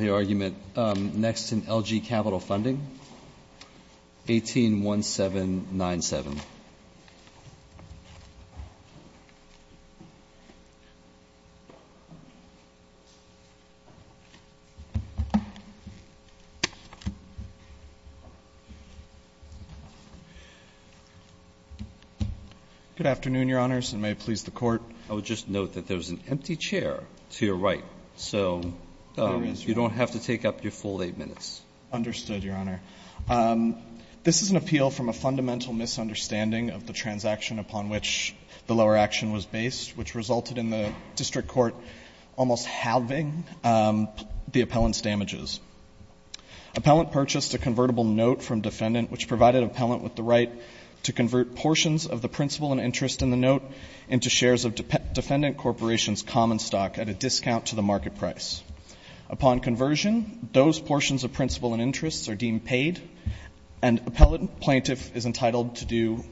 181797. Good afternoon, Your Honors, and may it please the Court. I would just note that there's an empty chair to your right, so you don't have to take up your full 8 minutes. Understood, Your Honor. This is an appeal from a fundamental misunderstanding of the transaction upon which the lower action was based, which resulted in the district court almost halving the appellant's damages. Appellant purchased a convertible note from defendant, which provided appellant with the right to convert portions of the principal and interest in the note into shares of defendant corporation's common stock at a discount to the market price. Upon conversion, those portions of principal and interest are deemed paid, and appellant plaintiff is entitled to do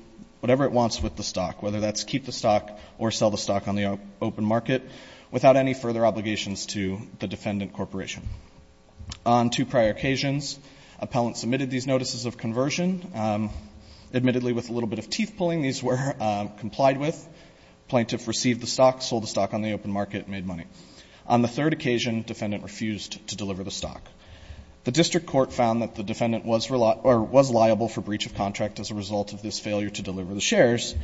whatever it wants with the stock, whether that's keep the stock or sell the stock on the open market, without any further obligations to the defendant corporation. On two prior occasions, appellant submitted these notices of conversion. Admittedly, with a little bit of teeth pulling, these were complied with. Plaintiff received the stock, sold the stock on the open market, and made money. On the third occasion, defendant refused to deliver the stock. The district court found that the defendant was liable for breach of contract as a result of this failure to deliver the shares,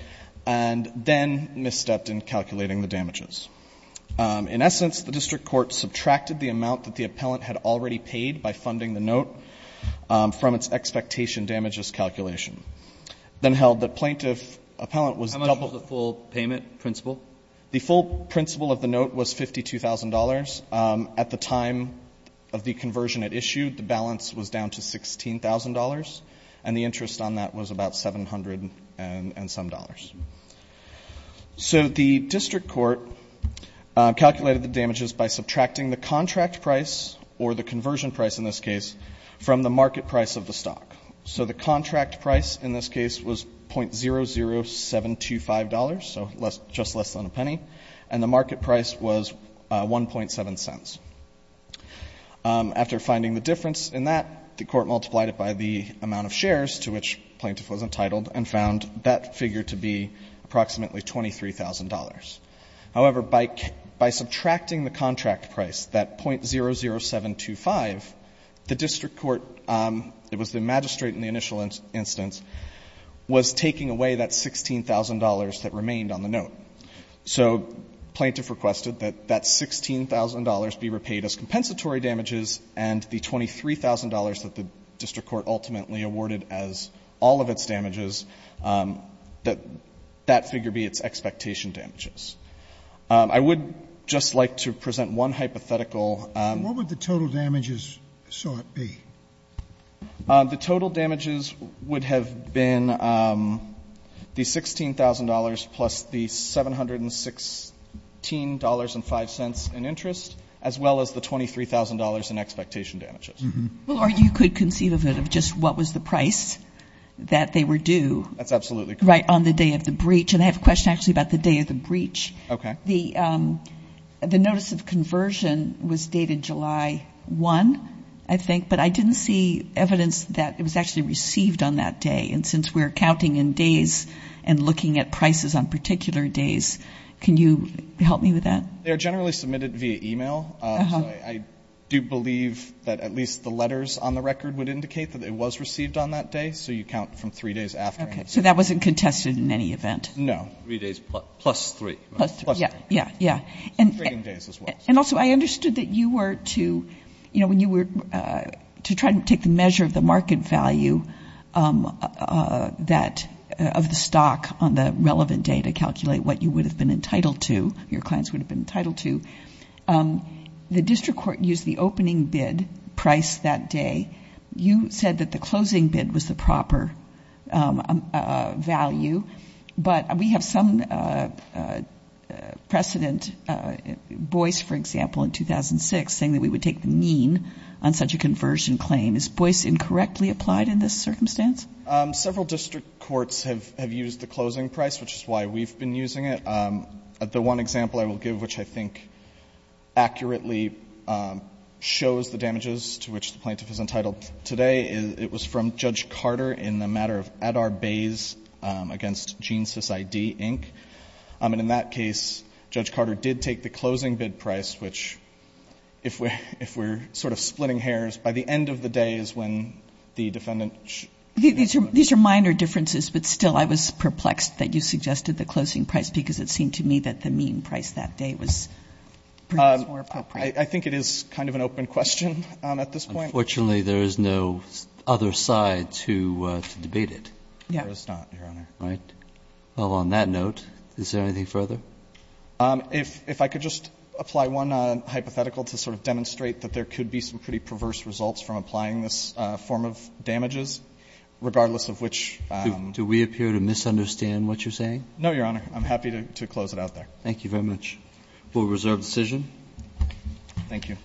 and then misstepped in calculating the damages. In essence, the district court subtracted the amount that the appellant had already paid by funding the note from its expectation damages calculation, then held that plaintiff appellant was doubled. Alito, what was the full payment principal? The full principal of the note was $52,000. At the time of the conversion it issued, the balance was down to $16,000, and the interest on that was about $700 and some dollars. So the district court calculated the damages by subtracting the contract price, or the conversion price in this case, from the market price of the stock. So the contract price in this case was $.00725, so just less than a penny, and the market price was 1.7 cents. After finding the difference in that, the court multiplied it by the amount of shares to which plaintiff was entitled and found that figure to be approximately $23,000. However, by subtracting the contract price, that $.00725, the district court, it was the magistrate in the initial instance, was taking away that $16,000 that remained on the note. So plaintiff requested that that $16,000 be repaid as compensatory damages and the $23,000 that the district court ultimately awarded as all of its damages, that that figure be its expectation damages. I would just like to present one hypothetical. Scalia, what would the total damages sought be? The total damages would have been the $16,000 plus the $716.05 in interest, as well as the $23,000 in expectation damages. Or you could conceive of it of just what was the price that they were due. That's absolutely correct. Right, on the day of the breach. And I have a question actually about the day of the breach. Okay. The notice of conversion was dated July 1, I think. But I didn't see evidence that it was actually received on that day. And since we're counting in days and looking at prices on particular days, can you help me with that? They are generally submitted via e-mail. So I do believe that at least the letters on the record would indicate that it was received on that day. So you count from three days after. Okay. So that wasn't contested in any event? No. Three days plus three. Plus three. Yeah, yeah. And also, I understood that you were to, you know, when you were to try to take the measure of the market value of the stock on the relevant day to calculate what you would have been entitled to, your clients would have been entitled to, the district court used the opening bid price that day. You said that the closing bid was the proper value. But we have some precedent, Boyce, for example, in 2006, saying that we would take the mean on such a conversion claim. Is Boyce incorrectly applied in this circumstance? Several district courts have used the closing price, which is why we've been using it. The one example I will give, which I think accurately shows the damages to which the plaintiff is entitled today, it was from Judge Carter in the matter of Adar Bayes against GeneSys ID, Inc. And in that case, Judge Carter did take the closing bid price, which if we're sort of splitting hairs, by the end of the day is when the defendant should be entitled. These are minor differences, but still I was perplexed that you suggested the closing price because it seemed to me that the mean price that day was perhaps more appropriate. I think it is kind of an open question at this point. Unfortunately, there is no other side to debate it. Yeah. There is not, Your Honor. Right. Well, on that note, is there anything further? If I could just apply one hypothetical to sort of demonstrate that there could be some pretty perverse results from applying this form of damages, regardless of which. Do we appear to misunderstand what you're saying? No, Your Honor. I'm happy to close it out there. Thank you very much. We'll reserve the decision. Thank you.